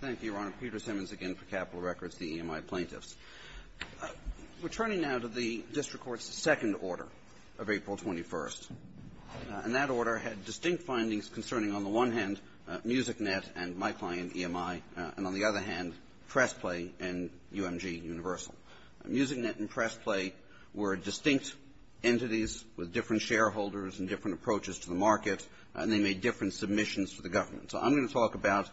Thank you, Your Honor. Peter Simmons again for Capitol Records, the EMI plaintiffs. We're turning now to the district court's second order of April 21st. And that order had distinct findings concerning, on the one hand, MusicNet and my client, EMI, and on the other hand, PressPlay and UMG Universal. MusicNet and PressPlay were distinct entities with different shareholders and different approaches to the market, and they made different submissions to the government. So I'm going to talk about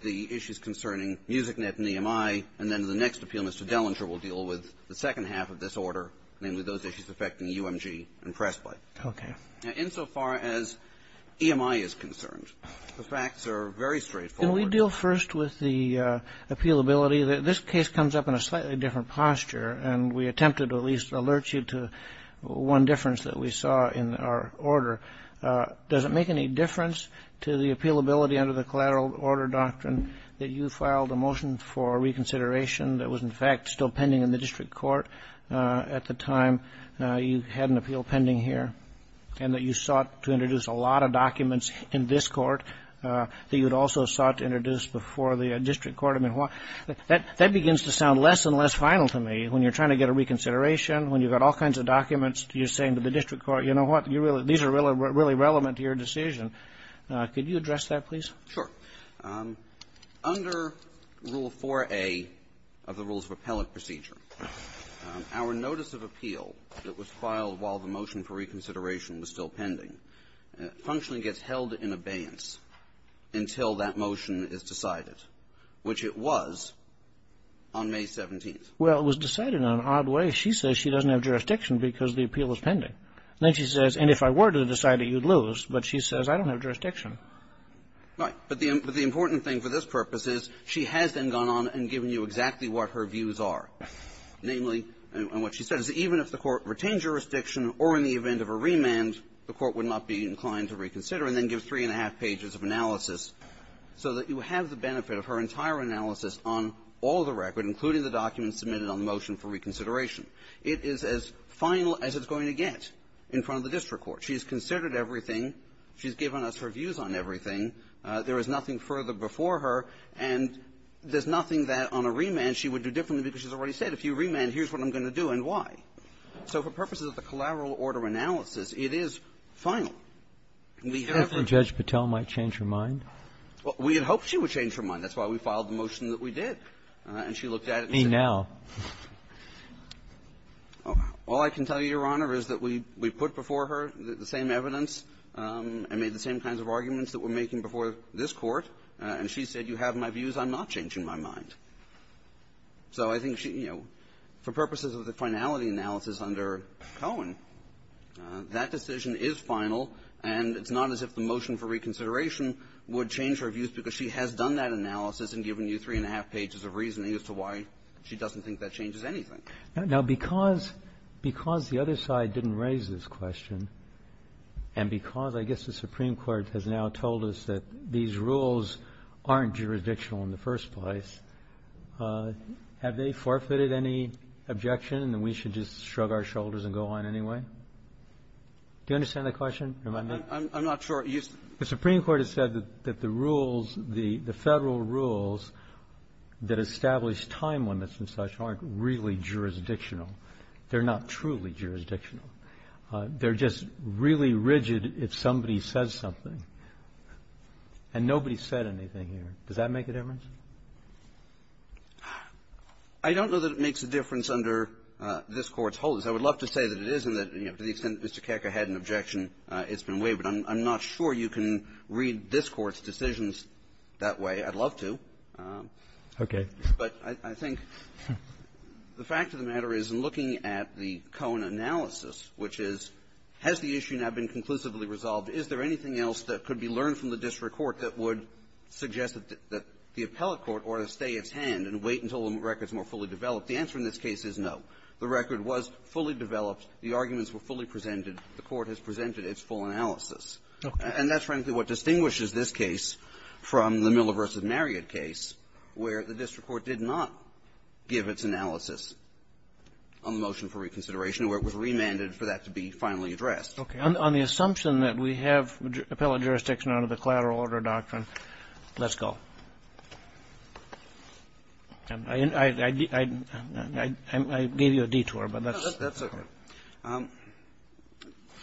the issues concerning MusicNet and EMI, and then in the next appeal, Mr. Dellinger will deal with the second half of this order, namely those issues affecting UMG and PressPlay. Okay. Now, insofar as EMI is concerned, the facts are very straightforward. Can we deal first with the appealability? This case comes up in a slightly different posture, and we attempted to at least alert you to one difference that we saw in our order. Does it make any difference to the appealability under the collateral order doctrine that you filed a motion for reconsideration that was, in fact, still pending in the district court at the time you had an appeal pending here, and that you sought to introduce a lot of documents in this court that you had also sought to introduce before the district court? I mean, that begins to sound less and less final to me. When you're trying to get a reconsideration, when you've got all kinds of documents, you're saying to the district court, you know what, these are really relevant to your decision. Could you address that, please? Sure. Under Rule 4A of the Rules of Appellate Procedure, our notice of appeal that was filed while the motion for reconsideration was still pending, it functionally gets held in abeyance until that motion is decided, which it was on May 17th. Well, it was decided in an odd way. She says she doesn't have jurisdiction because the appeal was pending. And then she says, and if I were to decide it, you'd lose. But she says, I don't have jurisdiction. Right. But the important thing for this purpose is she has then gone on and given you exactly what her views are. Namely, and what she says, even if the Court retained jurisdiction or in the event of a remand, the Court would not be inclined to reconsider and then give three-and-a-half pages of analysis so that you have the benefit of her entire analysis on all the record, including the documents submitted on the motion for reconsideration. It is as final as it's going to get in front of the district court. She's considered everything. She's given us her views on everything. There is nothing further before her. And there's nothing that on a remand she would do differently because she's already said, if you remand, here's what I'm going to do and why. So for purposes of the collateral order analysis, it is final. We have her ---- You think Judge Patel might change her mind? We had hoped she would change her mind. That's why we filed the motion that we did. And she looked at it and said ---- Me now. All I can tell you, Your Honor, is that we put before her the same evidence and made the same kinds of arguments that we're making before this Court. And she said, you have my views. I'm not changing my mind. So I think, you know, for purposes of the finality analysis under Cohen, that decision is final, and it's not as if the motion for reconsideration would change her views because she has done that analysis and given you three-and-a-half pages of reasoning as to why she doesn't think that changes anything. Now, because the other side didn't raise this question, and because I guess the Supreme Court has now told us that these rules aren't jurisdictional in the first place, have they forfeited any objection that we should just shrug our shoulders and go on anyway? Do you understand that question? I'm not sure. The Supreme Court has said that the rules, the Federal rules that establish time limits and such aren't really jurisdictional. They're not truly jurisdictional. They're just really rigid if somebody says something. And nobody said anything here. Does that make a difference? I don't know that it makes a difference under this Court's holdings. I would love to say that it isn't, that, you know, to the extent that Mr. Kecker had an objection, it's been waived. But I'm not sure you can read this Court's decisions that way. I'd love to. Okay. But I think the fact of the matter is, in looking at the Cohen analysis, which is, has the issue now been conclusively resolved? Is there anything else that could be learned from the district court that would suggest that the appellate court ought to stay its hand and wait until the record's more fully developed? The answer in this case is, as the record's more fully developed, the arguments were fully presented. The Court has presented its full analysis. And that's frankly what distinguishes this case from the Miller v. Marriott case, where the district court did not give its analysis on the motion for reconsideration or where it was remanded for that to be finally addressed. Okay. On the assumption that we have appellate jurisdiction under the collateral order doctrine, let's go. I gave you a detour. That's okay.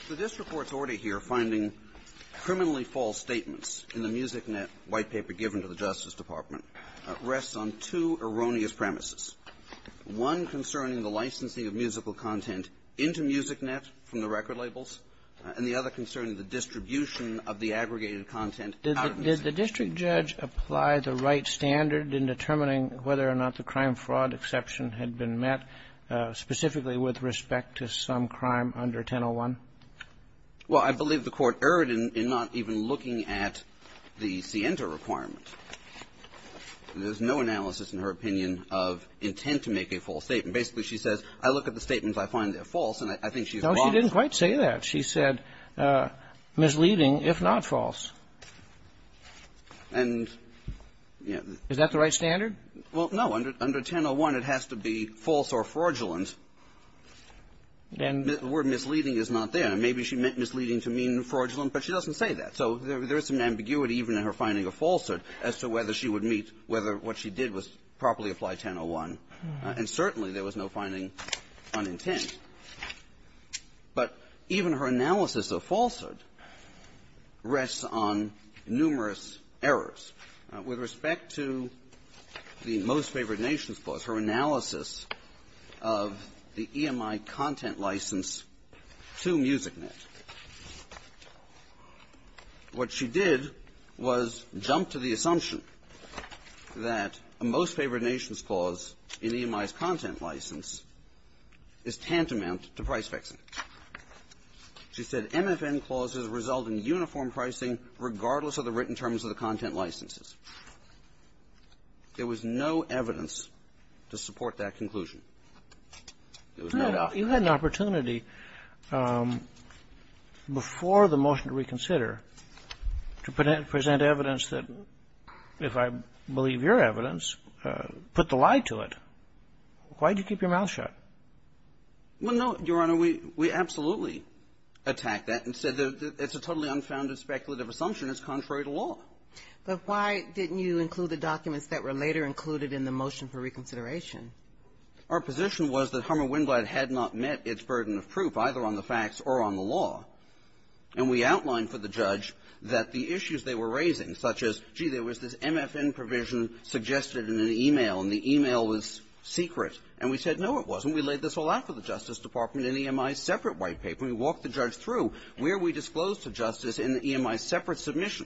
The district court's order here, finding criminally false statements in the Music Net white paper given to the Justice Department, rests on two erroneous premises, one concerning the licensing of musical content into Music Net from the record labels, and the other concerning the distribution of the aggregated content out of Music Net. Did the district judge apply the right standard in determining whether or not the crime under 1001? Well, I believe the Court erred in not even looking at the Sienta requirement. There's no analysis, in her opinion, of intent to make a false statement. Basically, she says, I look at the statements, I find they're false, and I think she's wrong. No, she didn't quite say that. She said misleading, if not false. And, you know the --- Is that the right standard? Well, no. Under 1001, it has to be false or fraudulent. And the word misleading is not there. Maybe she meant misleading to mean fraudulent, but she doesn't say that. So there is some ambiguity even in her finding of falsehood as to whether she would meet whether what she did was properly apply 1001. And certainly there was no finding on intent. But even her analysis of falsehood rests on numerous errors. With respect to the Most Favored Nations Clause, her analysis of the EMI content license to MusicNet, what she did was jump to the assumption that a Most Favored Nations Clause in EMI's content license is tantamount to price fixing. She said MFN clauses result in uniform pricing regardless of the written terms of the content licenses. There was no evidence to support that conclusion. There was no doubt. You had an opportunity before the motion to reconsider to present evidence that, if I believe your evidence, put the lie to it. Why did you keep your mouth shut? Well, no, Your Honor, we absolutely attacked that and said it's a totally unfounded speculative assumption. It's contrary to law. But why didn't you include the documents that were later included in the motion for reconsideration? Our position was that Hummer-Wendland had not met its burden of proof, either on the facts or on the law. And we outlined for the judge that the issues they were raising, such as, gee, there was this MFN provision suggested in an e-mail, and the e-mail was secret. And we said, no, it wasn't. We laid this all out for the Justice Department in EMI's separate white paper. We walked the judge through where we disclosed to justice in the EMI's separate submission,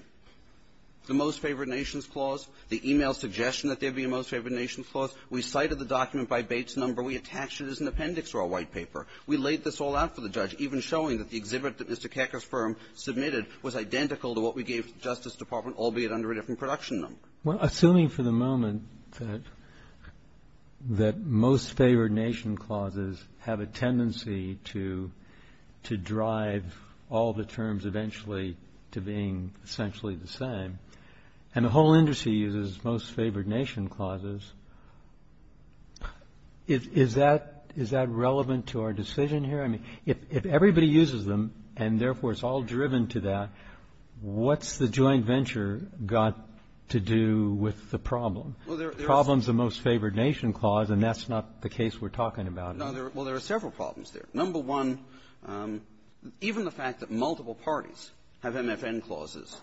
the Most Favored Nations Clause, the e-mail suggestion that there be a Most Favored Nations Clause. We cited the document by Bates number. We attached it as an appendix to our white paper. We laid this all out for the judge, even showing that the exhibit that Mr. Kekker's firm submitted was identical to what we gave to the Justice Department, albeit under a different production number. Well, assuming for the moment that Most Favored Nations Clauses have a tendency to drive all the terms eventually to being essentially the same, and the whole industry uses Most Favored Nations Clauses, is that relevant to our decision here? I mean, if everybody uses them and, therefore, it's all driven to that, what's the joint venture got to do with the problem? The problem is the Most Favored Nations Clause, and that's not the case we're talking about. No. Well, there are several problems there. Number one, even the fact that multiple parties have MFN clauses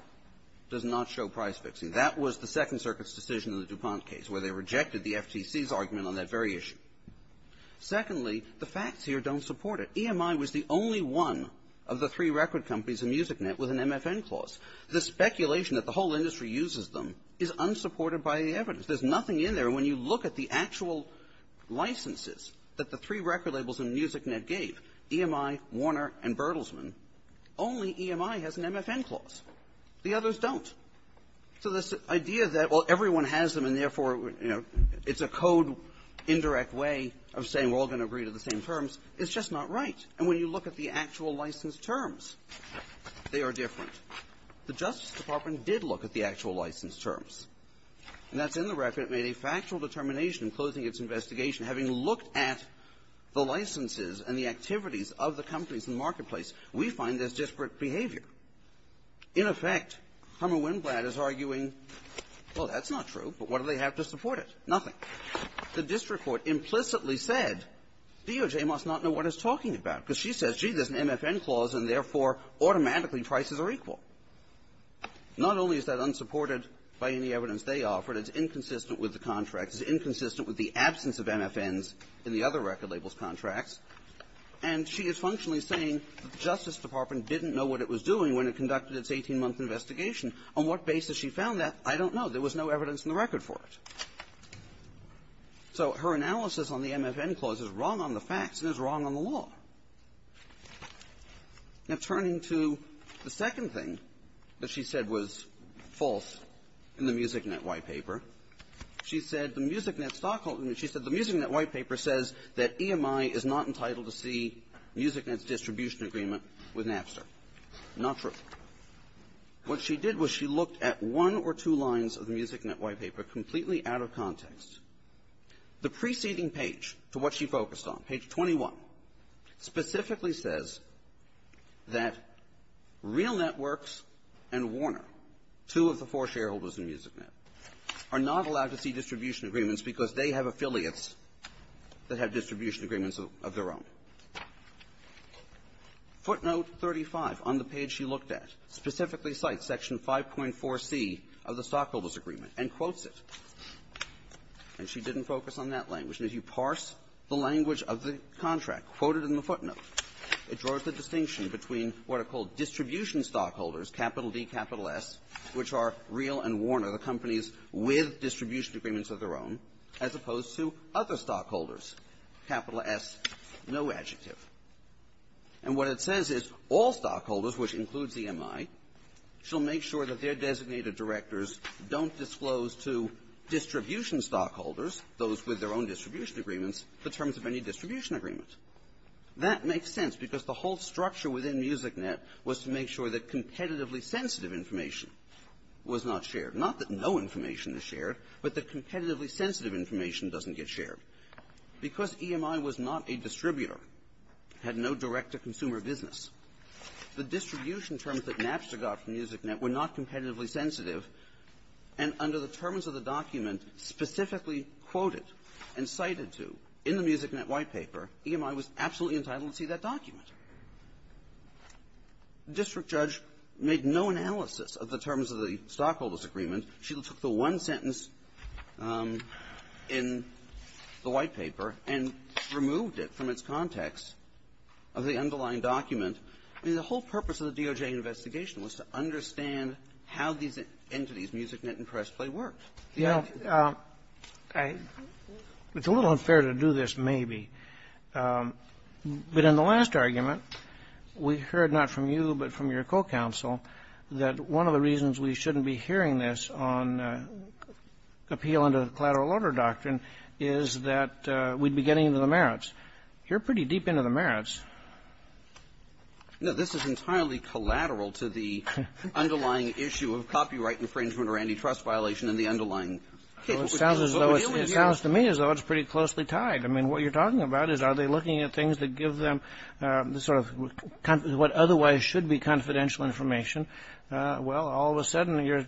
does not show price fixing. That was the Second Circuit's decision in the DuPont case where they rejected the FTC's argument on that very issue. Secondly, the facts here don't support it. EMI was the only one of the three record companies in MusicNet with an MFN clause. The speculation that the whole industry uses them is unsupported by the evidence. There's nothing in there. And when you look at the actual licenses that the three record labels in MusicNet gave, EMI, Warner, and Bertelsmann, only EMI has an MFN clause. The others don't. So this idea that, well, everyone has them, and, therefore, you know, it's a code indirect way of saying we're all going to agree to the same terms is just not right. And when you look at the actual license terms, they are different. The Justice Department did look at the actual license terms. And that's in the record. It made a factual determination, closing its investigation, having looked at the licenses and the activities of the companies in the marketplace, we find there's disparate behavior. In effect, Hummer-Winblad is arguing, well, that's not true, but what do they have to support it? Nothing. The district court implicitly said DOJ must not know what it's talking about, because she says, gee, there's an MFN clause, and, therefore, automatically prices are equal. Not only is that unsupported by any evidence they offered, it's inconsistent with the contracts. It's inconsistent with the absence of MFNs in the other record labels contracts. And she is functionally saying the Justice Department didn't know what it was doing when it conducted its 18-month investigation. On what basis she found that, I don't know. There was no evidence in the record for it. So her analysis on the MFN clause is wrong on the facts and is wrong on the law. Now, turning to the second thing that she said was false in the MusicNet white paper, she said the MusicNet stockholding – she said the MusicNet white paper says that EMI is not entitled to see MusicNet's distribution agreement with Napster. Not true. What she did was she looked at one or two lines of the MusicNet white paper completely out of context. The preceding page to what she focused on, page 21, specifically says that Real Networks and Warner, two of the four shareholders in MusicNet, are not allowed to see distribution agreements because they have affiliates that have distribution agreements of their own. Footnote 35 on the page she looked at specifically cites Section 5.4c of the stockholders agreement and quotes it. And she didn't focus on that language. And if you parse the language of the contract quoted in the footnote, it draws the distinction between what are called distribution stockholders, capital D, capital S, which are Real and Warner, the companies with distribution agreements of their own, as opposed to other stockholders, capital S, no adjective. And what it says is all stockholders, which includes EMI, shall make sure that their designated directors don't disclose to distribution stockholders, those with their own distribution agreements, the terms of any distribution agreement. That makes sense because the whole structure within MusicNet was to make sure that competitively sensitive information was not shared. Not that no information is shared, but that competitively sensitive information doesn't get shared. Because EMI was not a competitively sensitive document. The distribution terms that Napster got from MusicNet were not competitively sensitive. And under the terms of the document specifically quoted and cited to in the MusicNet white paper, EMI was absolutely entitled to see that document. The district judge made no analysis of the terms of the stockholders agreement. She took the one sentence in the white paper and removed it from its context of the underlying document. I mean, the whole purpose of the DOJ investigation was to understand how these entities, MusicNet and Pressplay, worked. Kennedy. It's a little unfair to do this, maybe. But in the last argument, we heard not from you but from your co-counsel that one of the reasons we shouldn't be hearing this on appeal under the collateral order doctrine is that we'd be getting into the merits. You're pretty deep into the merits. No. This is entirely collateral to the underlying issue of copyright infringement or antitrust violation in the underlying case. It sounds to me as though it's pretty closely tied. I mean, what you're talking about is are they looking at things that give them the sort of what otherwise should be confidential information? Well, all of a sudden, you're,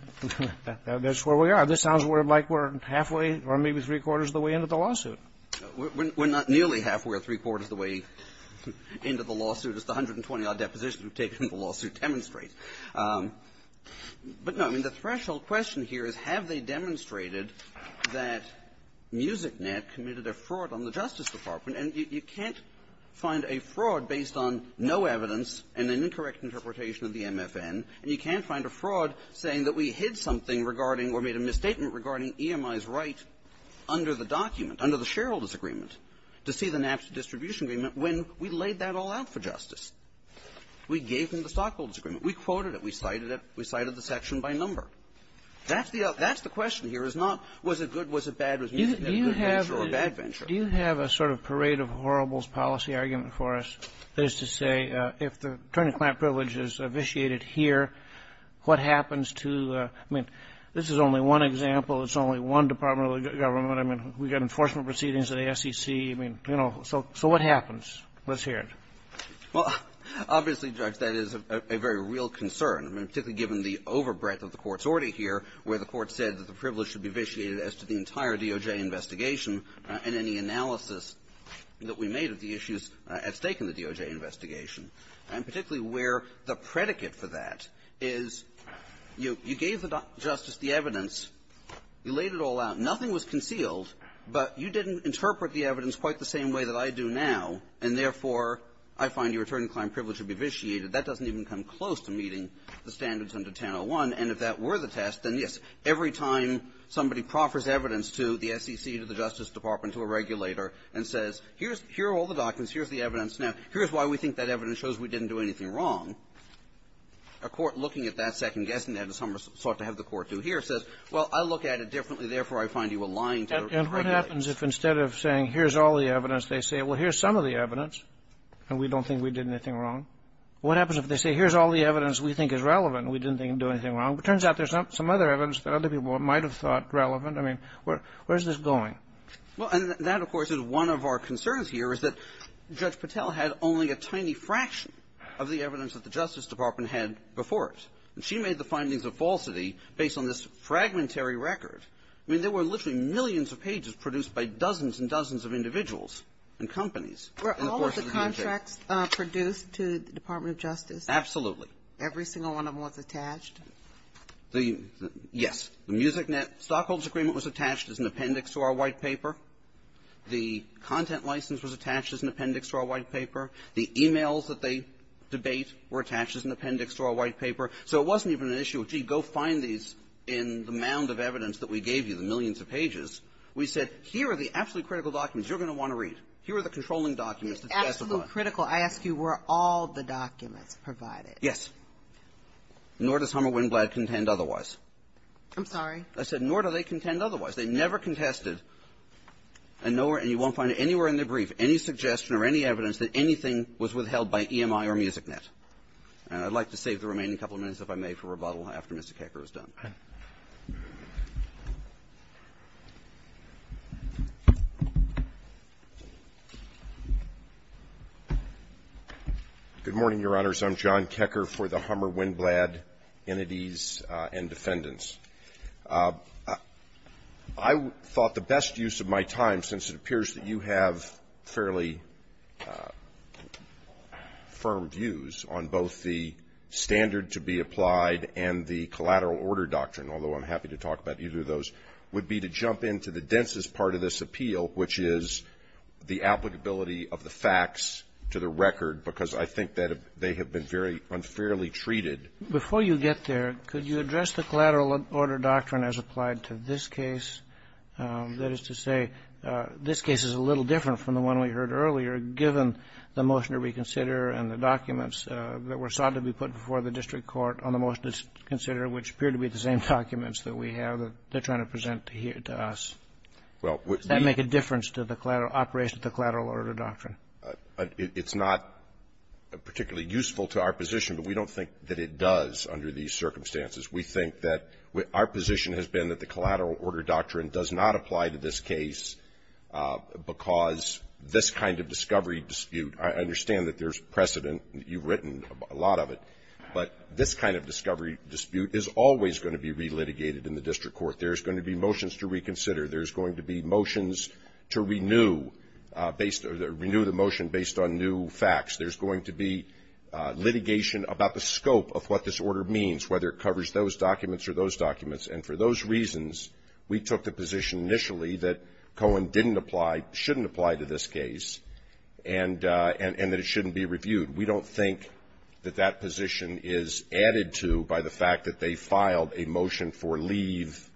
that's where we are. This sounds like we're halfway or maybe three-quarters of the way into the lawsuit. We're not nearly halfway or three-quarters of the way into the lawsuit, as the 120-odd depositions we've taken in the lawsuit demonstrate. But, no, I mean, the threshold question here is have they demonstrated that MusicNet committed a fraud on the Justice Department? You can't find a direct interpretation of the MFN, and you can't find a fraud saying that we hid something regarding or made a misstatement regarding EMI's right under the document, under the shareholders' agreement, to see the NAPSA distribution agreement when we laid that all out for Justice. We gave them the stockholders' agreement. We quoted it. We cited it. We cited the section by number. That's the question here. It's not was it good, was it bad, was MusicNet a good venture or a bad venture. Do you have a sort of parade of horribles policy argument for us as to say if the attorney-client privilege is vitiated here, what happens to the – I mean, this is only one example. It's only one department of the government. I mean, we've got enforcement proceedings at the SEC. I mean, you know, so what happens? Let's hear it. Well, obviously, Judge, that is a very real concern, particularly given the overbreadth of the Court's order here where the Court said that the privilege should be vitiated as to the entire DOJ investigation and any analysis that we made of the issues at stake in the DOJ investigation, and particularly where the predicate for that is, you know, you gave the Justice the evidence, you laid it all out, nothing was concealed, but you didn't interpret the evidence quite the same way that I do now, and therefore, I find your attorney-client privilege to be vitiated. That doesn't even come close to meeting the standards under 1001. And if that were the test, then, yes, every time somebody proffers evidence to the SEC, to the Justice Department, to a regulator, and says, here are all the documents, here's the evidence now, here's why we think that evidence shows we didn't do anything wrong, a court looking at that, second-guessing that, as some sought to have the Court do here, says, well, I look at it differently, therefore, I find you allying to the regulator. And what happens if instead of saying, here's all the evidence, they say, well, here's some of the evidence, and we don't think we did anything wrong? What happens if they say, here's all the evidence we think is relevant, and we didn't do anything wrong? It turns out there's some other evidence that other people might have thought relevant. I mean, where is this going? Well, and that, of course, is one of our concerns here, is that Judge Patel had only a tiny fraction of the evidence that the Justice Department had before it. And she made the findings of falsity based on this fragmentary record. I mean, there were literally millions of pages produced by dozens and dozens of individuals and companies in the course of the decade. The contracts produced to the Department of Justice? Absolutely. Every single one of them was attached? The yes. The Music Net stockholders' agreement was attached as an appendix to our white paper. The content license was attached as an appendix to our white paper. The e-mails that they debate were attached as an appendix to our white paper. So it wasn't even an issue of, gee, go find these in the mound of evidence that we gave you, the millions of pages. We said, here are the absolutely critical documents you're going to want to read. Here are the controlling documents. It's absolutely critical. I ask you, were all the documents provided? Yes. Nor does Hummer Wynblad contend otherwise. I'm sorry? I said, nor do they contend otherwise. They never contested. And you won't find anywhere in their brief any suggestion or any evidence that anything was withheld by EMI or Music Net. And I'd like to save the remaining couple of minutes, if I may, for rebuttal after Mr. Kakar is done. Good morning, Your Honors. I'm John Kakar for the Hummer Wynblad Entities and Defendants. I thought the best use of my time, since it appears that you have fairly firm views on both the standard to be applied and the collateral order doctrine, although I'm happy to talk about either of those, would be to jump into the densest part of this appeal, which is the applicability of the facts to the record, because I think that they have been very unfairly treated. Before you get there, could you address the collateral order doctrine as applied to this case? That is to say, this case is a little different from the one we heard earlier, given the motion to reconsider and the documents that were sought to be put before the district court on the motion to consider, which appear to be the same documents that we have that they're trying to present to us. Well, we can't make a difference to the collateral order doctrine. It's not particularly useful to our position, but we don't think that it does under these circumstances. We think that our position has been that the collateral order doctrine does not apply to this case, because this kind of discovery dispute, I understand that there's precedent, you've written a lot of it, but this kind of discovery dispute is always going to be relitigated in the district court. There's going to be motions to reconsider. There's going to be motions to renew based, or renew the motion based on new facts. There's going to be litigation about the scope of what this order means, whether it covers those documents or those documents. And for those reasons, we took the position initially that Cohen didn't apply, shouldn't apply to this case, and that it shouldn't be reviewed. We don't think that that position is added to by the fact that they filed a motion for leave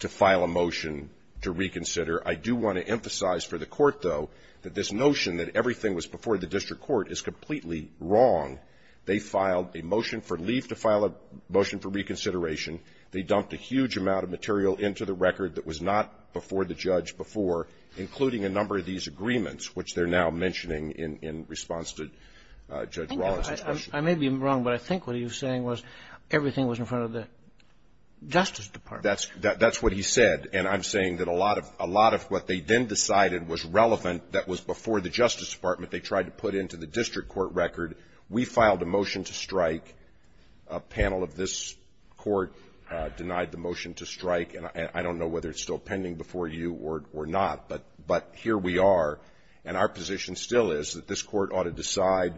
to file a motion to reconsider. I do want to emphasize for the Court, though, that this notion that everything was before the district court is completely wrong. They filed a motion for leave to file a motion for reconsideration. They dumped a huge amount of material into the record that was not before the judge before, including a number of these agreements, which they're now mentioning in response to Judge Rawlings' question. I may be wrong, but I think what he was saying was everything was in front of the Justice Department. That's what he said. And I'm saying that a lot of what they then decided was relevant that was before the Justice Department they tried to put into the district court record. We filed a motion to strike. A panel of this Court denied the motion to strike. And I don't know whether it's still pending before you or not, but here we are. And our position still is that this Court ought to decide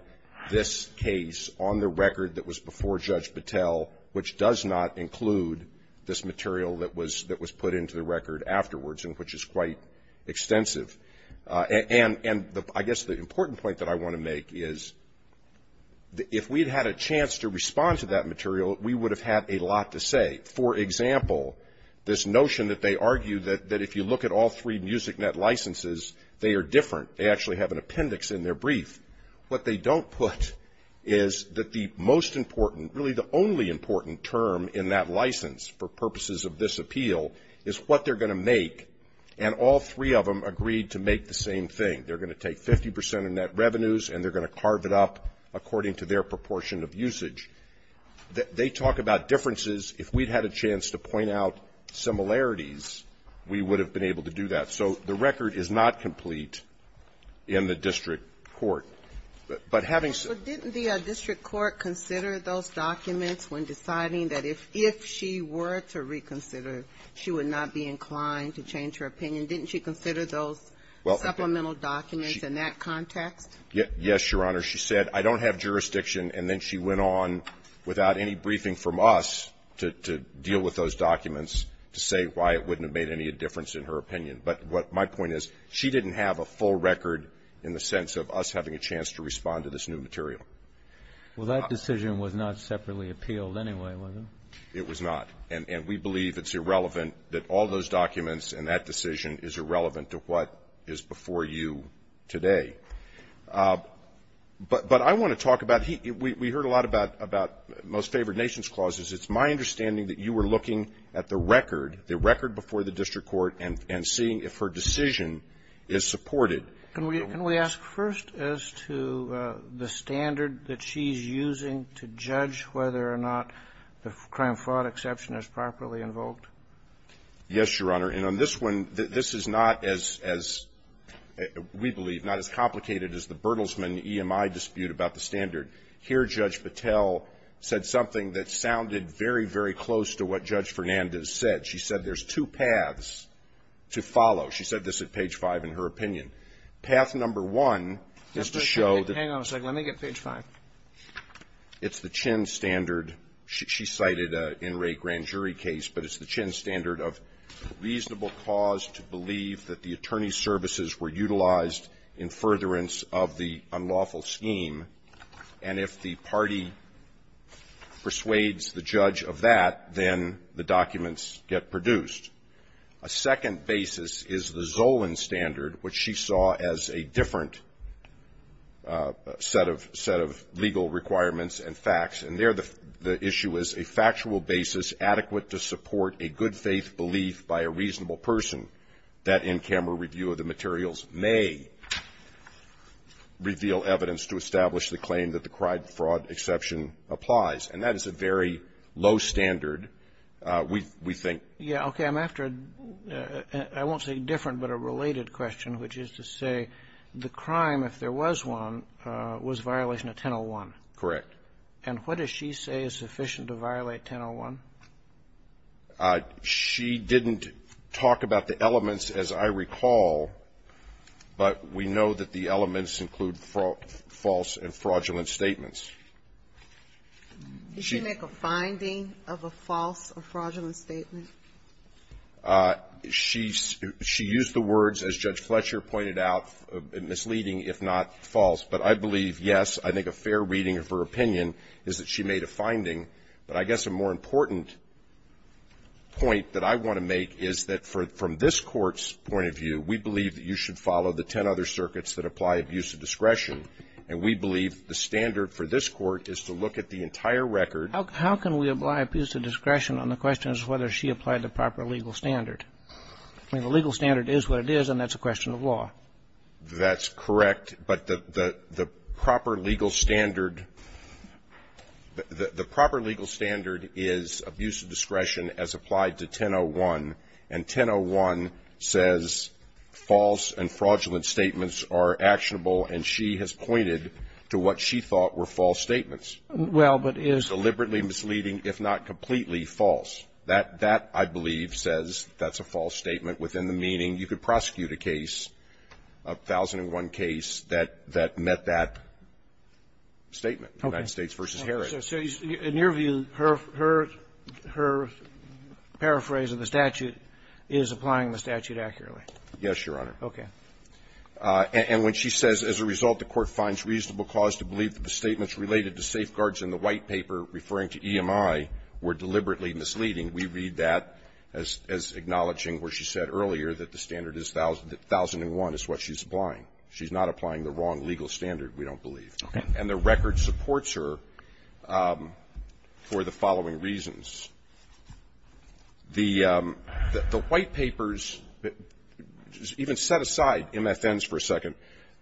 this case on the record that was before Judge Battelle, which does not include this material that was put into the record afterwards, and which is quite extensive. And I guess the important point that I want to make is if we'd had a chance to respond to that material, we would have had a lot to say. For example, this notion that they argue that if you look at all three MusicNet licenses, they are different. They actually have an appendix in their brief. What they don't put is that the most important, really the only important term in that license for purposes of this appeal is what they're going to make. And all three of them agreed to make the same thing. They're going to take 50 percent of net revenues and they're going to carve it up according to their proportion of usage. They talk about differences. If we'd had a chance to point out similarities, we would have been able to do that. So the record is not complete in the district court. But having said that the district court considered those documents when deciding that if she were to reconsider, she would not be inclined to change her opinion, didn't she consider those supplemental documents in that context? Yes, Your Honor. She said, I don't have jurisdiction, and then she went on without any briefing from us to deal with those documents to say why it wouldn't have made any difference in her opinion. But what my point is, she didn't have a full record in the sense of us having a chance to respond to this new material. Well, that decision was not separately appealed anyway, was it? It was not. And we believe it's irrelevant that all those documents and that decision is irrelevant to what is before you today. But I want to talk about here. We heard a lot about most favored nations clauses. It's my understanding that you were looking at the record, the record before the district court, and seeing if her decision is supported. Can we ask first as to the standard that she's using to judge whether or not the crime fraud exception is properly invoked? Yes, Your Honor. And on this one, this is not as we believe, not as complicated as the Bertelsmann EMI dispute about the standard. Here, Judge Patel said something that sounded very, very close to what Judge Fernandez said. She said there's two paths to follow. She said this at page 5 in her opinion. Path number one is to show that the Chin standard, she cited in Ray Grandjury's case, but it's the Chin standard of reasonable cause to believe that the attorney's services were utilized in furtherance of the unlawful scheme. And if the party persuades the judge of that, then the documents get produced. A second basis is the Zolan standard, which she saw as a different set of legal requirements and facts. And there the issue is a factual basis adequate to support a good-faith belief by a reasonable person that in-camera review of the materials may reveal evidence to establish the claim that the crime fraud exception applies. And that is a very low standard, we think. Yeah. Okay. I'm after a, I won't say different, but a related question, which is to say the crime, if there was one, was violation of 1001. Correct. And what does she say is sufficient to violate 1001? She didn't talk about the elements, as I recall, but we know that the elements include false and fraudulent statements. Did she make a finding of a false or fraudulent statement? She used the words, as Judge Fletcher pointed out, misleading, if not false. But I believe, yes, I think a fair reading of her opinion is that she made a finding. But I guess a more important point that I want to make is that from this Court's point of view, we believe that you should follow the ten other circuits that apply abuse of discretion. And we believe the standard for this Court is to look at the entire record. How can we apply abuse of discretion on the question as to whether she applied the proper legal standard? I mean, the legal standard is what it is, and that's a question of law. That's correct. But the proper legal standard, the proper legal standard is abuse of discretion as applied to 1001, and 1001 says false and fraudulent statements are actionable, and she has pointed to what she thought were false statements. Well, but is. Deliberately misleading, if not completely false. That, I believe, says that's a false statement within the meaning you could prosecute a case, a 1001 case, that met that statement, United States v. Herod. Okay. So in your view, her paraphrase of the statute is applying the statute accurately? Yes, Your Honor. Okay. And when she says, as a result, the Court finds reasonable cause to believe that the statements related to safeguards in the white paper referring to EMI were deliberately misleading, we read that as acknowledging what she said earlier, that the standard is 1001 is what she's applying. She's not applying the wrong legal standard, we don't believe. Okay. And the record supports her for the following reasons. The white papers, even set aside MFNs for a second,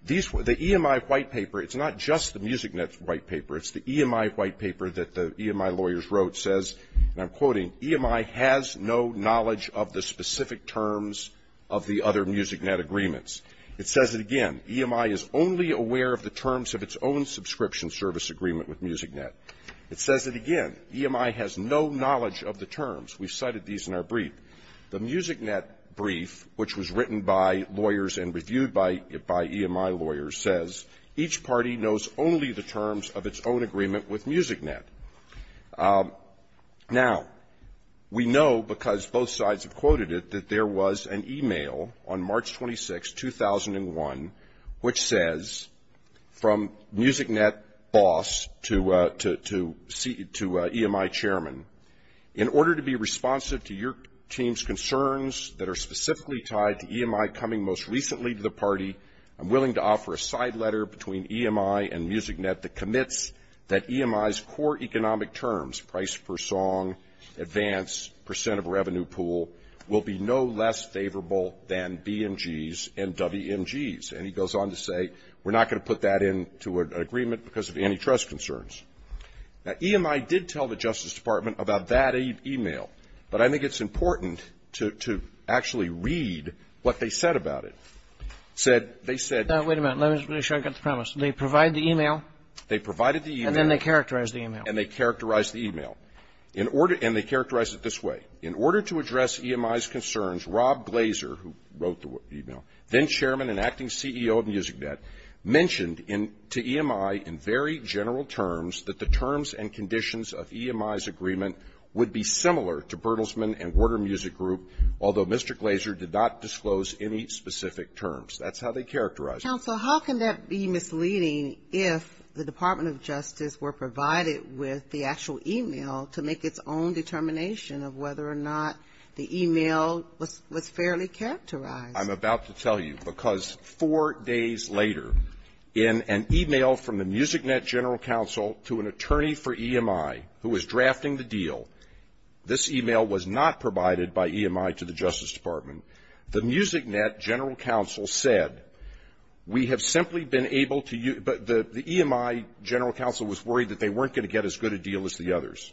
these were the EMI white paper. It's not just the MusicNet white paper. It's the EMI white paper that the EMI lawyers wrote says, and I'm quoting, EMI has no knowledge of the specific terms of the other MusicNet agreements. It says it again, EMI is only aware of the terms of its own subscription service agreement with MusicNet. It says it again, EMI has no knowledge of the terms. We've cited these in our brief. The MusicNet brief, which was written by lawyers and reviewed by EMI lawyers, says, each party knows only the terms of its own agreement with MusicNet. Now, we know because both sides have quoted it, that there was an email on March 26, 2001, which says, from MusicNet boss to EMI chairman. In order to be responsive to your team's concerns that are specifically tied to a side letter between EMI and MusicNet that commits that EMI's core economic terms, price per song, advance, percent of revenue pool, will be no less favorable than BMG's and WMG's. And he goes on to say, we're not going to put that into an agreement because of antitrust concerns. Now, EMI did tell the Justice Department about that email. But I think it's important to actually read what they said about it. Said, they said Now, wait a minute. Let me make sure I get the premise. They provide the email. They provided the email. And then they characterized the email. And they characterized the email. In order, and they characterized it this way. In order to address EMI's concerns, Rob Glazer, who wrote the email, then chairman and acting CEO of MusicNet, mentioned in, to EMI in very general terms that the terms and conditions of EMI's agreement would be similar to Bertelsmann and Warner Music Group, although Mr. Glazer did not disclose any specific terms. That's how they characterized it. Counsel, how can that be misleading if the Department of Justice were provided with the actual email to make its own determination of whether or not the email was fairly characterized? I'm about to tell you, because four days later, in an email from the MusicNet general counsel to an attorney for EMI who was drafting the deal, this email was not provided by EMI to the Justice Department. The MusicNet general counsel said, we have simply been able to, the EMI general counsel was worried that they weren't going to get as good a deal as the others.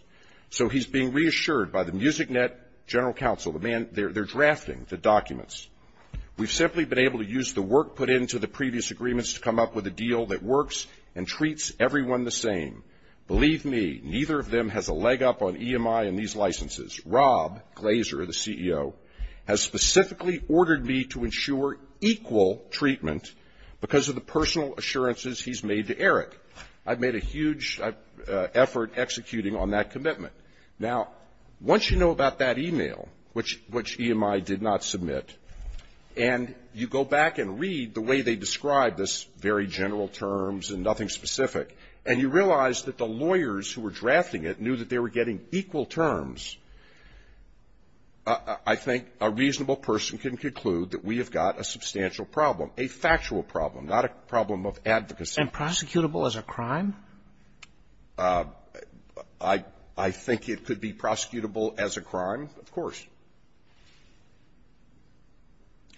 So he's being reassured by the MusicNet general counsel, the man, they're drafting the documents. We've simply been able to use the work put into the previous agreements to come up with a deal that works and treats everyone the same. Believe me, neither of them has a leg up on EMI and these licenses. Rob Glazer, the CEO, has specifically ordered me to ensure equal treatment because of the personal assurances he's made to Eric. I've made a huge effort executing on that commitment. Now, once you know about that email, which EMI did not submit, and you go back and read the way they describe this very general terms and nothing specific, and you realize that the lawyers who were drafting it knew that they were getting equal terms, I think a reasonable person can conclude that we have got a substantial problem, a factual problem, not a problem of advocacy. And prosecutable as a crime? I think it could be prosecutable as a crime, of course.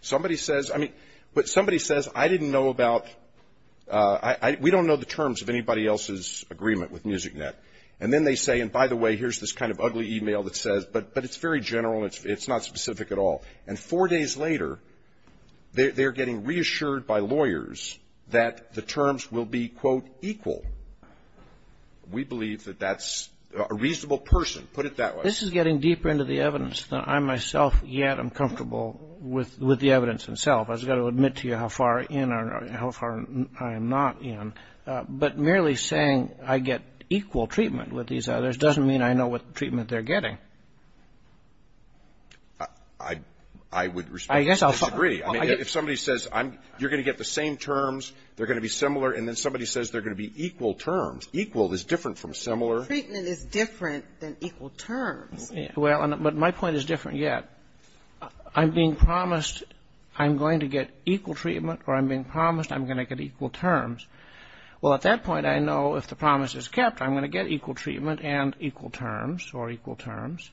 Somebody says, I mean, but somebody says, I didn't know about, we don't know the terms of anybody else's agreement with MusicNet. And then they say, and by the way, here's this kind of ugly email that says, but it's very general, it's not specific at all. And four days later, they're getting reassured by lawyers that the terms will be, quote, equal. We believe that that's a reasonable person. Put it that way. This is getting deeper into the evidence than I myself yet am comfortable with the evidence itself. I've just got to admit to you how far in or how far I am not in. But merely saying I get equal treatment with these others doesn't mean I know what treatment they're getting. I would respectfully disagree. I mean, if somebody says, you're going to get the same terms, they're going to be similar, and then somebody says they're going to be equal terms, equal is different from similar. Treatment is different than equal terms. Well, but my point is different yet. I'm being promised I'm going to get equal treatment or I'm being promised I'm going to get equal terms. Well, at that point, I know if the promise is kept, I'm going to get equal treatment and equal terms or equal terms.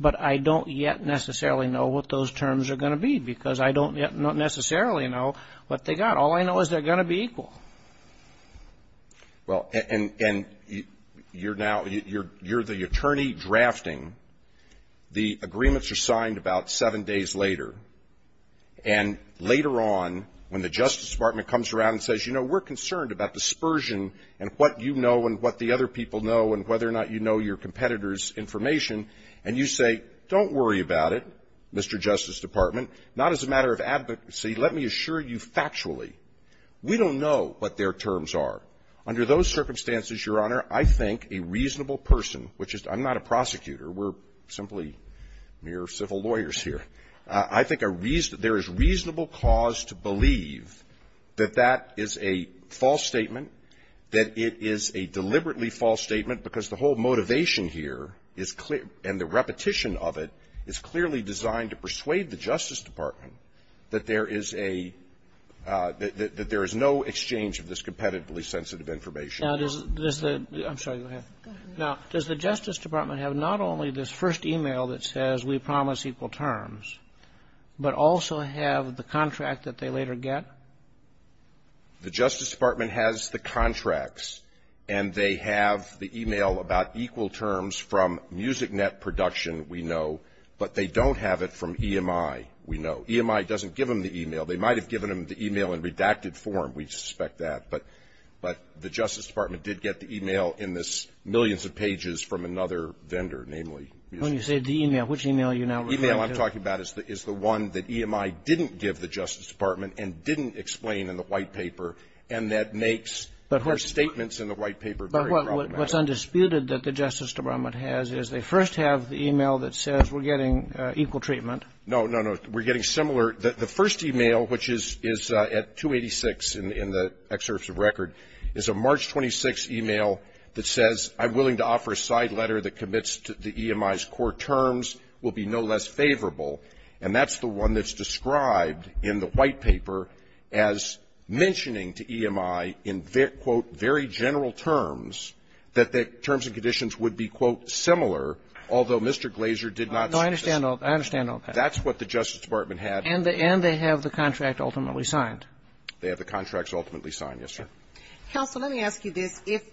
But I don't yet necessarily know what those terms are going to be because I don't yet necessarily know what they got. All I know is they're going to be equal. Well, and you're now, you're the attorney drafting. The agreements are signed about seven days later. And later on, when the Justice Department comes around and says, you know, we're concerned about dispersion and what you know and what the other people know and whether or not you know your competitors' information, and you say, don't worry about it, Mr. Justice Department, not as a matter of advocacy. Let me assure you factually, we don't know what their terms are. Under those circumstances, Your Honor, I think a reasonable person, which is I'm not a prosecutor, we're simply mere civil lawyers here. I think a reason — there is reasonable cause to believe that that is a false statement, that it is a deliberately false statement because the whole motivation here is clear and the repetition of it is clearly designed to persuade the Justice Department that there is a — that there is no exchange of this competitively sensitive information. Roberts. Now, does the — I'm sorry, go ahead. Now, does the Justice Department have not only this first e-mail that says we promise equal terms, but also have the contract that they later get? The Justice Department has the contracts, and they have the e-mail about equal terms from MusicNet Production, we know, but they don't have it from EMI, we know. EMI doesn't give them the e-mail. They might have given them the e-mail in redacted form, we suspect that, but the Justice Department did get the e-mail in this millions of pages from another vendor, namely MusicNet. When you say the e-mail, which e-mail are you now referring to? The e-mail I'm talking about is the one that EMI didn't give the Justice Department and didn't explain in the white paper, and that makes their statements in the white paper very problematic. But what's undisputed that the Justice Department has is they first have the e-mail that says we're getting equal treatment. No, no, no. We're getting similar — the first e-mail, which is at 286 in the excerpts of record, is a March 26th e-mail that says I'm willing to offer a side letter that commits to EMI's core terms, will be no less favorable. And that's the one that's described in the white paper as mentioning to EMI in, quote, very general terms that the terms and conditions would be, quote, similar, although Mr. Glazer did not say this. No, I understand all that. That's what the Justice Department had. And they have the contract ultimately signed. They have the contracts ultimately signed, yes, sir. Counsel, let me ask you this. If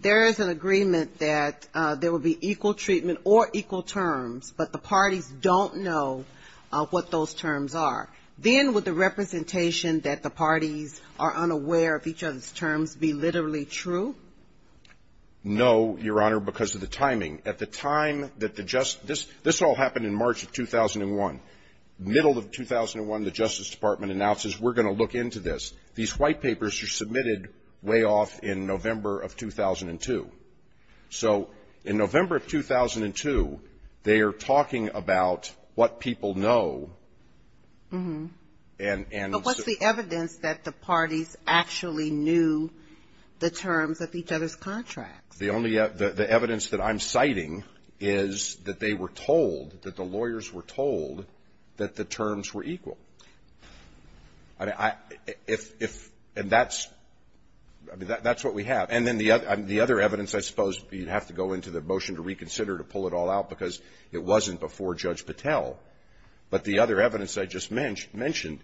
there is an agreement that there will be equal treatment or equal terms, but the parties don't know what those terms are, then would the representation that the parties are unaware of each other's terms be literally true? No, Your Honor, because of the timing. At the time that the — this all happened in March of 2001. Middle of 2001, the Justice Department announces we're going to look into this. These white papers were submitted way off in November of 2002. So in November of 2002, they are talking about what people know and — But what's the evidence that the parties actually knew the terms of each other's contracts? The only — the evidence that I'm citing is that they were told, that the lawyers were told that the terms were equal. I mean, I — if — and that's — I mean, that's what we have. And then the other evidence, I suppose, you'd have to go into the motion to reconsider to pull it all out because it wasn't before Judge Patel. But the other evidence I just mentioned,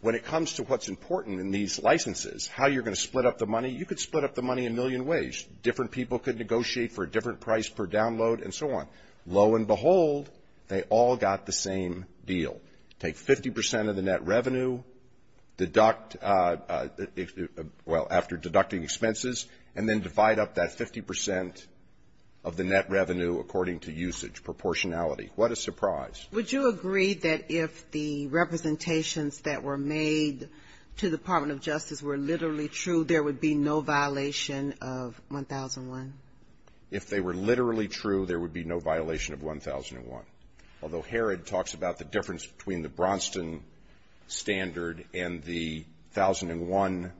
when it comes to what's important in these licenses, how you're going to split up the money, you could split up the money a million ways. Different people could negotiate for a different price per download and so on. Lo and behold, they all got the same deal. Take 50 percent of the net revenue, deduct — well, after deducting expenses, and then divide up that 50 percent of the net revenue according to usage, proportionality. What a surprise. Would you agree that if the representations that were made to the Department of Justice were literally true, there would be no violation of 1001? If they were literally true, there would be no violation of 1001. Although Herod talks about the difference between the Bronstan standard and the 1001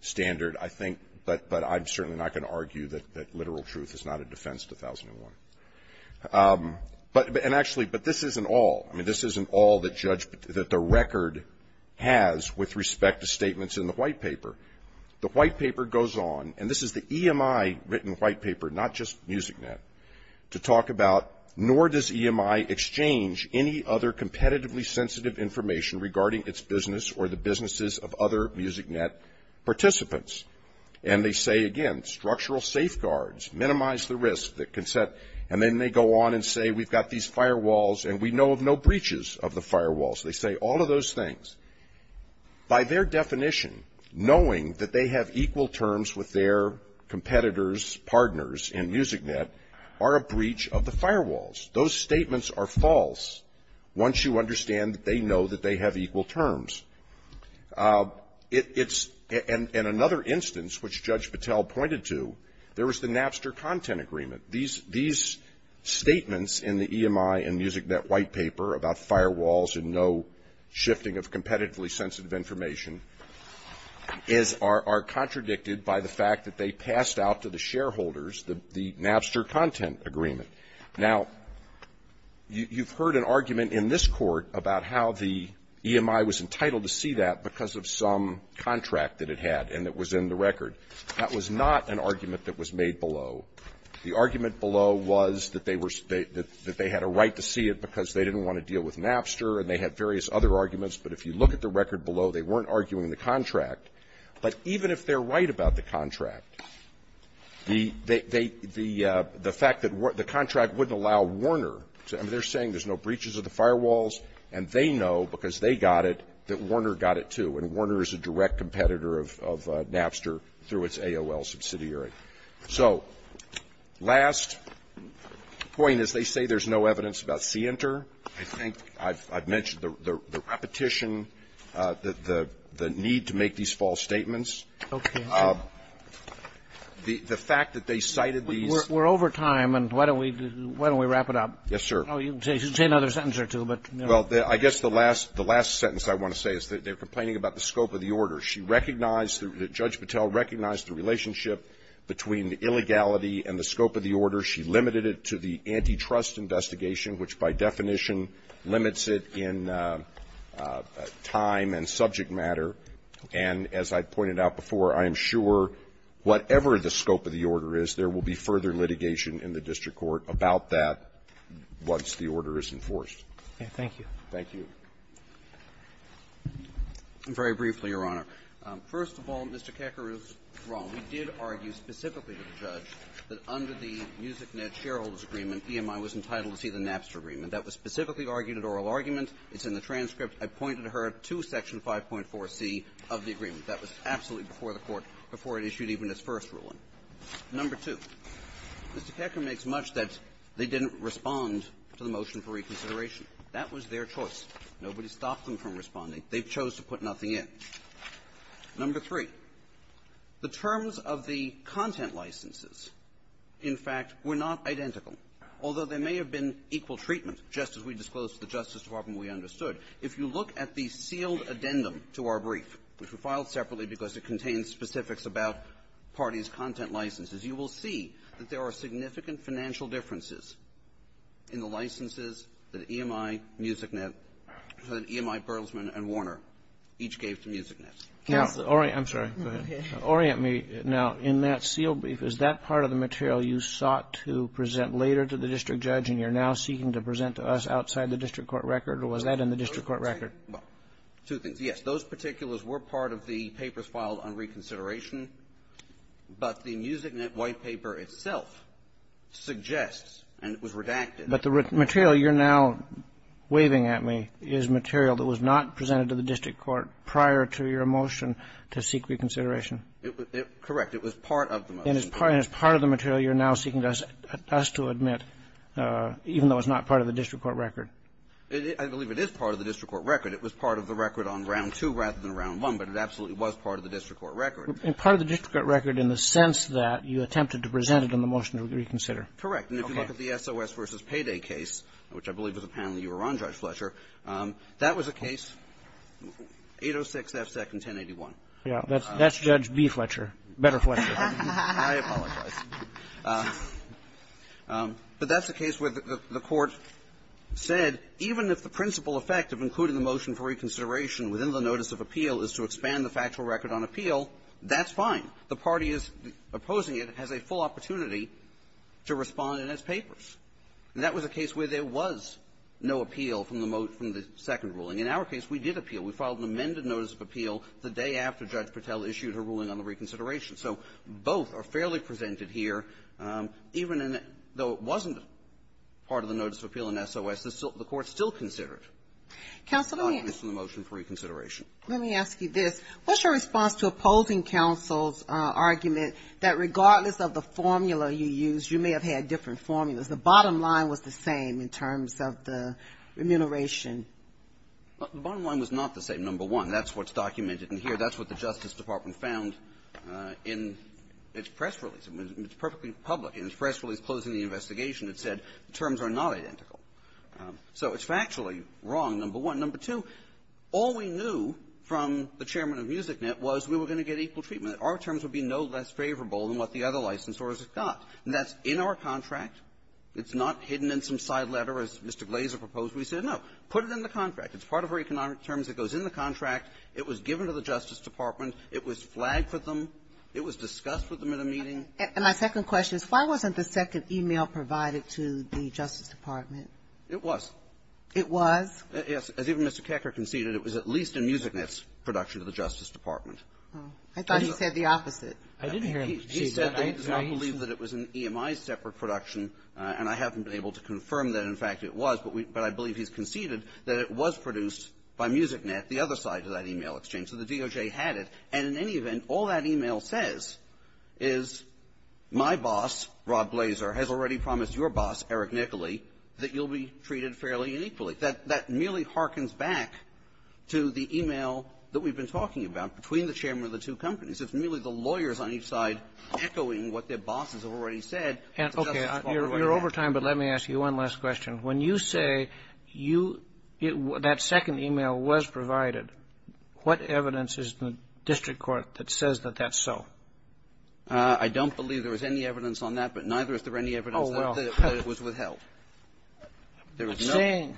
standard, I think — but I'm certainly not going to argue that literal truth is not a defense to 1001. But — and actually, but this isn't all. I mean, this isn't all that Judge — that the record has with respect to statements in the white paper. The white paper goes on, and this is the EMI written white paper, not just MusicNet, to talk about, nor does EMI exchange any other competitively sensitive information regarding its business or the businesses of other MusicNet participants. And they say, again, structural safeguards, minimize the risk that can set — and then they go on and say, we've got these firewalls, and we know of no breaches of the firewalls. They say all of those things. By their definition, knowing that they have equal terms with their competitors, partners in MusicNet, are a breach of the firewalls. Those statements are false once you understand that they know that they have equal terms. It's — and another instance, which Judge Patel pointed to, there was the Napster content agreement. These — these statements in the EMI and MusicNet white paper about firewalls and no shifting of competitively sensitive information is — is a breach of the Napster content agreement. Now, you've heard an argument in this Court about how the EMI was entitled to see that because of some contract that it had and that was in the record. That was not an argument that was made below. The argument below was that they were — that they had a right to see it because they didn't want to deal with Napster, and they had various other arguments. But if you look at the record below, they weren't arguing the contract. But even if they're right about the contract, the — they — the fact that the contract wouldn't allow Warner to — I mean, they're saying there's no breaches of the firewalls, and they know because they got it that Warner got it, too, and Warner is a direct competitor of — of Napster through its AOL subsidiary. So last point is they say there's no evidence about CINTER. I think I've — I've mentioned the — the repetition, the — the need to make these false statements. Okay. The — the fact that they cited these — We're over time, and why don't we — why don't we wrap it up? Yes, sir. Oh, you can say another sentence or two, but, you know — Well, I guess the last — the last sentence I want to say is that they're complaining about the scope of the order. She recognized — Judge Patel recognized the relationship between the illegality and the scope of the order. She limited it to the antitrust investigation, which, by definition, limits it in time and subject matter. And as I pointed out before, I am sure whatever the scope of the order is, there will be further litigation in the district court about that once the order is enforced. Okay. Thank you. Thank you. Very briefly, Your Honor. First of all, Mr. Kakaroff is wrong. We did argue specifically with the judge that under the MusicNet shareholder's agreement, EMI was entitled to see the Napster agreement. That was specifically argued at oral argument. It's in the transcript. I pointed her to Section 5.4c of the agreement. That was absolutely before the Court, before it issued even its first ruling. Number two, Mr. Kakaroff makes much that they didn't respond to the motion for reconsideration. That was their choice. Nobody stopped them from responding. The terms of the content licenses, in fact, were not identical, although there may have been equal treatment, just as we disclosed to the Justice Department we understood. If you look at the sealed addendum to our brief, which we filed separately because it contains specifics about parties' content licenses, you will see that there are significant financial differences in the licenses that EMI, MusicNet, that EMI, Bertelsmann, and Warner each gave to MusicNet. Counselor. Orient. I'm sorry. Go ahead. Orient me. Now, in that sealed brief, is that part of the material you sought to present later to the district judge and you're now seeking to present to us outside the district court record, or was that in the district court record? Well, two things. Yes. Those particulars were part of the papers filed on reconsideration. But the MusicNet white paper itself suggests, and it was redacted. But the material you're now waving at me is material that was not presented to the district court record to seek reconsideration. Correct. It was part of the motion. And it's part of the material you're now seeking us to admit, even though it's not part of the district court record. I believe it is part of the district court record. It was part of the record on Round 2 rather than Round 1, but it absolutely was part of the district court record. And part of the district court record in the sense that you attempted to present it in the motion to reconsider. Correct. Okay. And if you look at the SOS v. Payday case, which I believe was a panel you were on, Judge Fletcher, that was a case, 806 F. Second, 1081. Yeah. That's Judge B. Fletcher. Better Fletcher. I apologize. But that's a case where the court said, even if the principal effect of including the motion for reconsideration within the notice of appeal is to expand the factual record on appeal, that's fine. The party that's opposing it has a full opportunity to respond in its papers. And that was a case where there was no appeal from the second ruling. In our case, we did appeal. We filed an amended notice of appeal the day after Judge Patel issued her ruling on the reconsideration. So both are fairly presented here, even in the – though it wasn't part of the notice of appeal in SOS, the court still considered the arguments in the motion for reconsideration. Let me ask you this. What's your response to opposing counsel's argument that regardless of the formula you used, you may have had different formulas? The bottom line was the same in terms of the remuneration. The bottom line was not the same, number one. That's what's documented in here. That's what the Justice Department found in its press release. It's perfectly public. In its press release closing the investigation, it said the terms are not identical. So it's factually wrong, number one. Number two, all we knew from the chairman of MusicNet was we were going to get equal treatment. Our terms would be no less favorable than what the other licensors got. And that's in our contract. It's not hidden in some side letter, as Mr. Glazer proposed. We said, no, put it in the contract. It's part of our economic terms. It goes in the contract. It was given to the Justice Department. It was flagged for them. It was discussed with them at a meeting. And my second question is, why wasn't the second e-mail provided to the Justice Department? It was. It was? Yes. As even Mr. Kecker conceded, it was at least in MusicNet's production to the Justice Department. I thought you said the opposite. I didn't hear him say that. He said, I do not believe that it was an EMI separate production. And I haven't been able to confirm that, in fact, it was. But we, but I believe he's conceded that it was produced by MusicNet, the other side of that e-mail exchange. So the DOJ had it. And in any event, all that e-mail says is, my boss, Rob Glazer, has already promised your boss, Eric Nicolay, that you'll be treated fairly and equally. That, that merely harkens back to the e-mail that we've been talking about between the chairman of the two companies. It's merely the lawyers on each side echoing what their bosses have already said. And, okay, you're over time, but let me ask you one last question. When you say you – that second e-mail was provided, what evidence is in the district court that says that that's so? I don't believe there was any evidence on that, but neither is there any evidence that it was withheld. Oh, well, I'm saying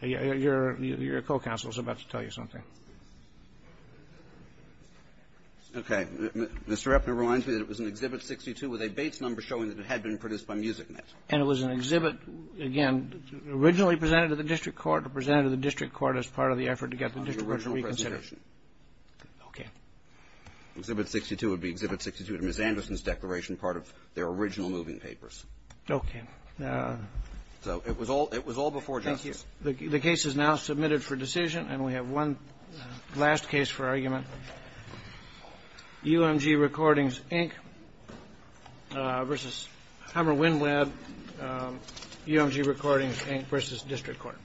your co-counsel is about to tell you something. Okay. Mr. Epner reminds me that it was an Exhibit 62 with a Bates number showing that it had been produced by MusicNet. And it was an exhibit, again, originally presented to the district court or presented to the district court as part of the effort to get the district court to reconsider. On the original presentation. Okay. Exhibit 62 would be Exhibit 62 to Ms. Anderson's declaration, part of their original moving Okay. So it was all – it was all before justice. Thank you. The case is now submitted for decision, and we have one last case for argument. UMG Recordings, Inc. v. Hammer-Winweb, UMG Recordings, Inc. v. District Court.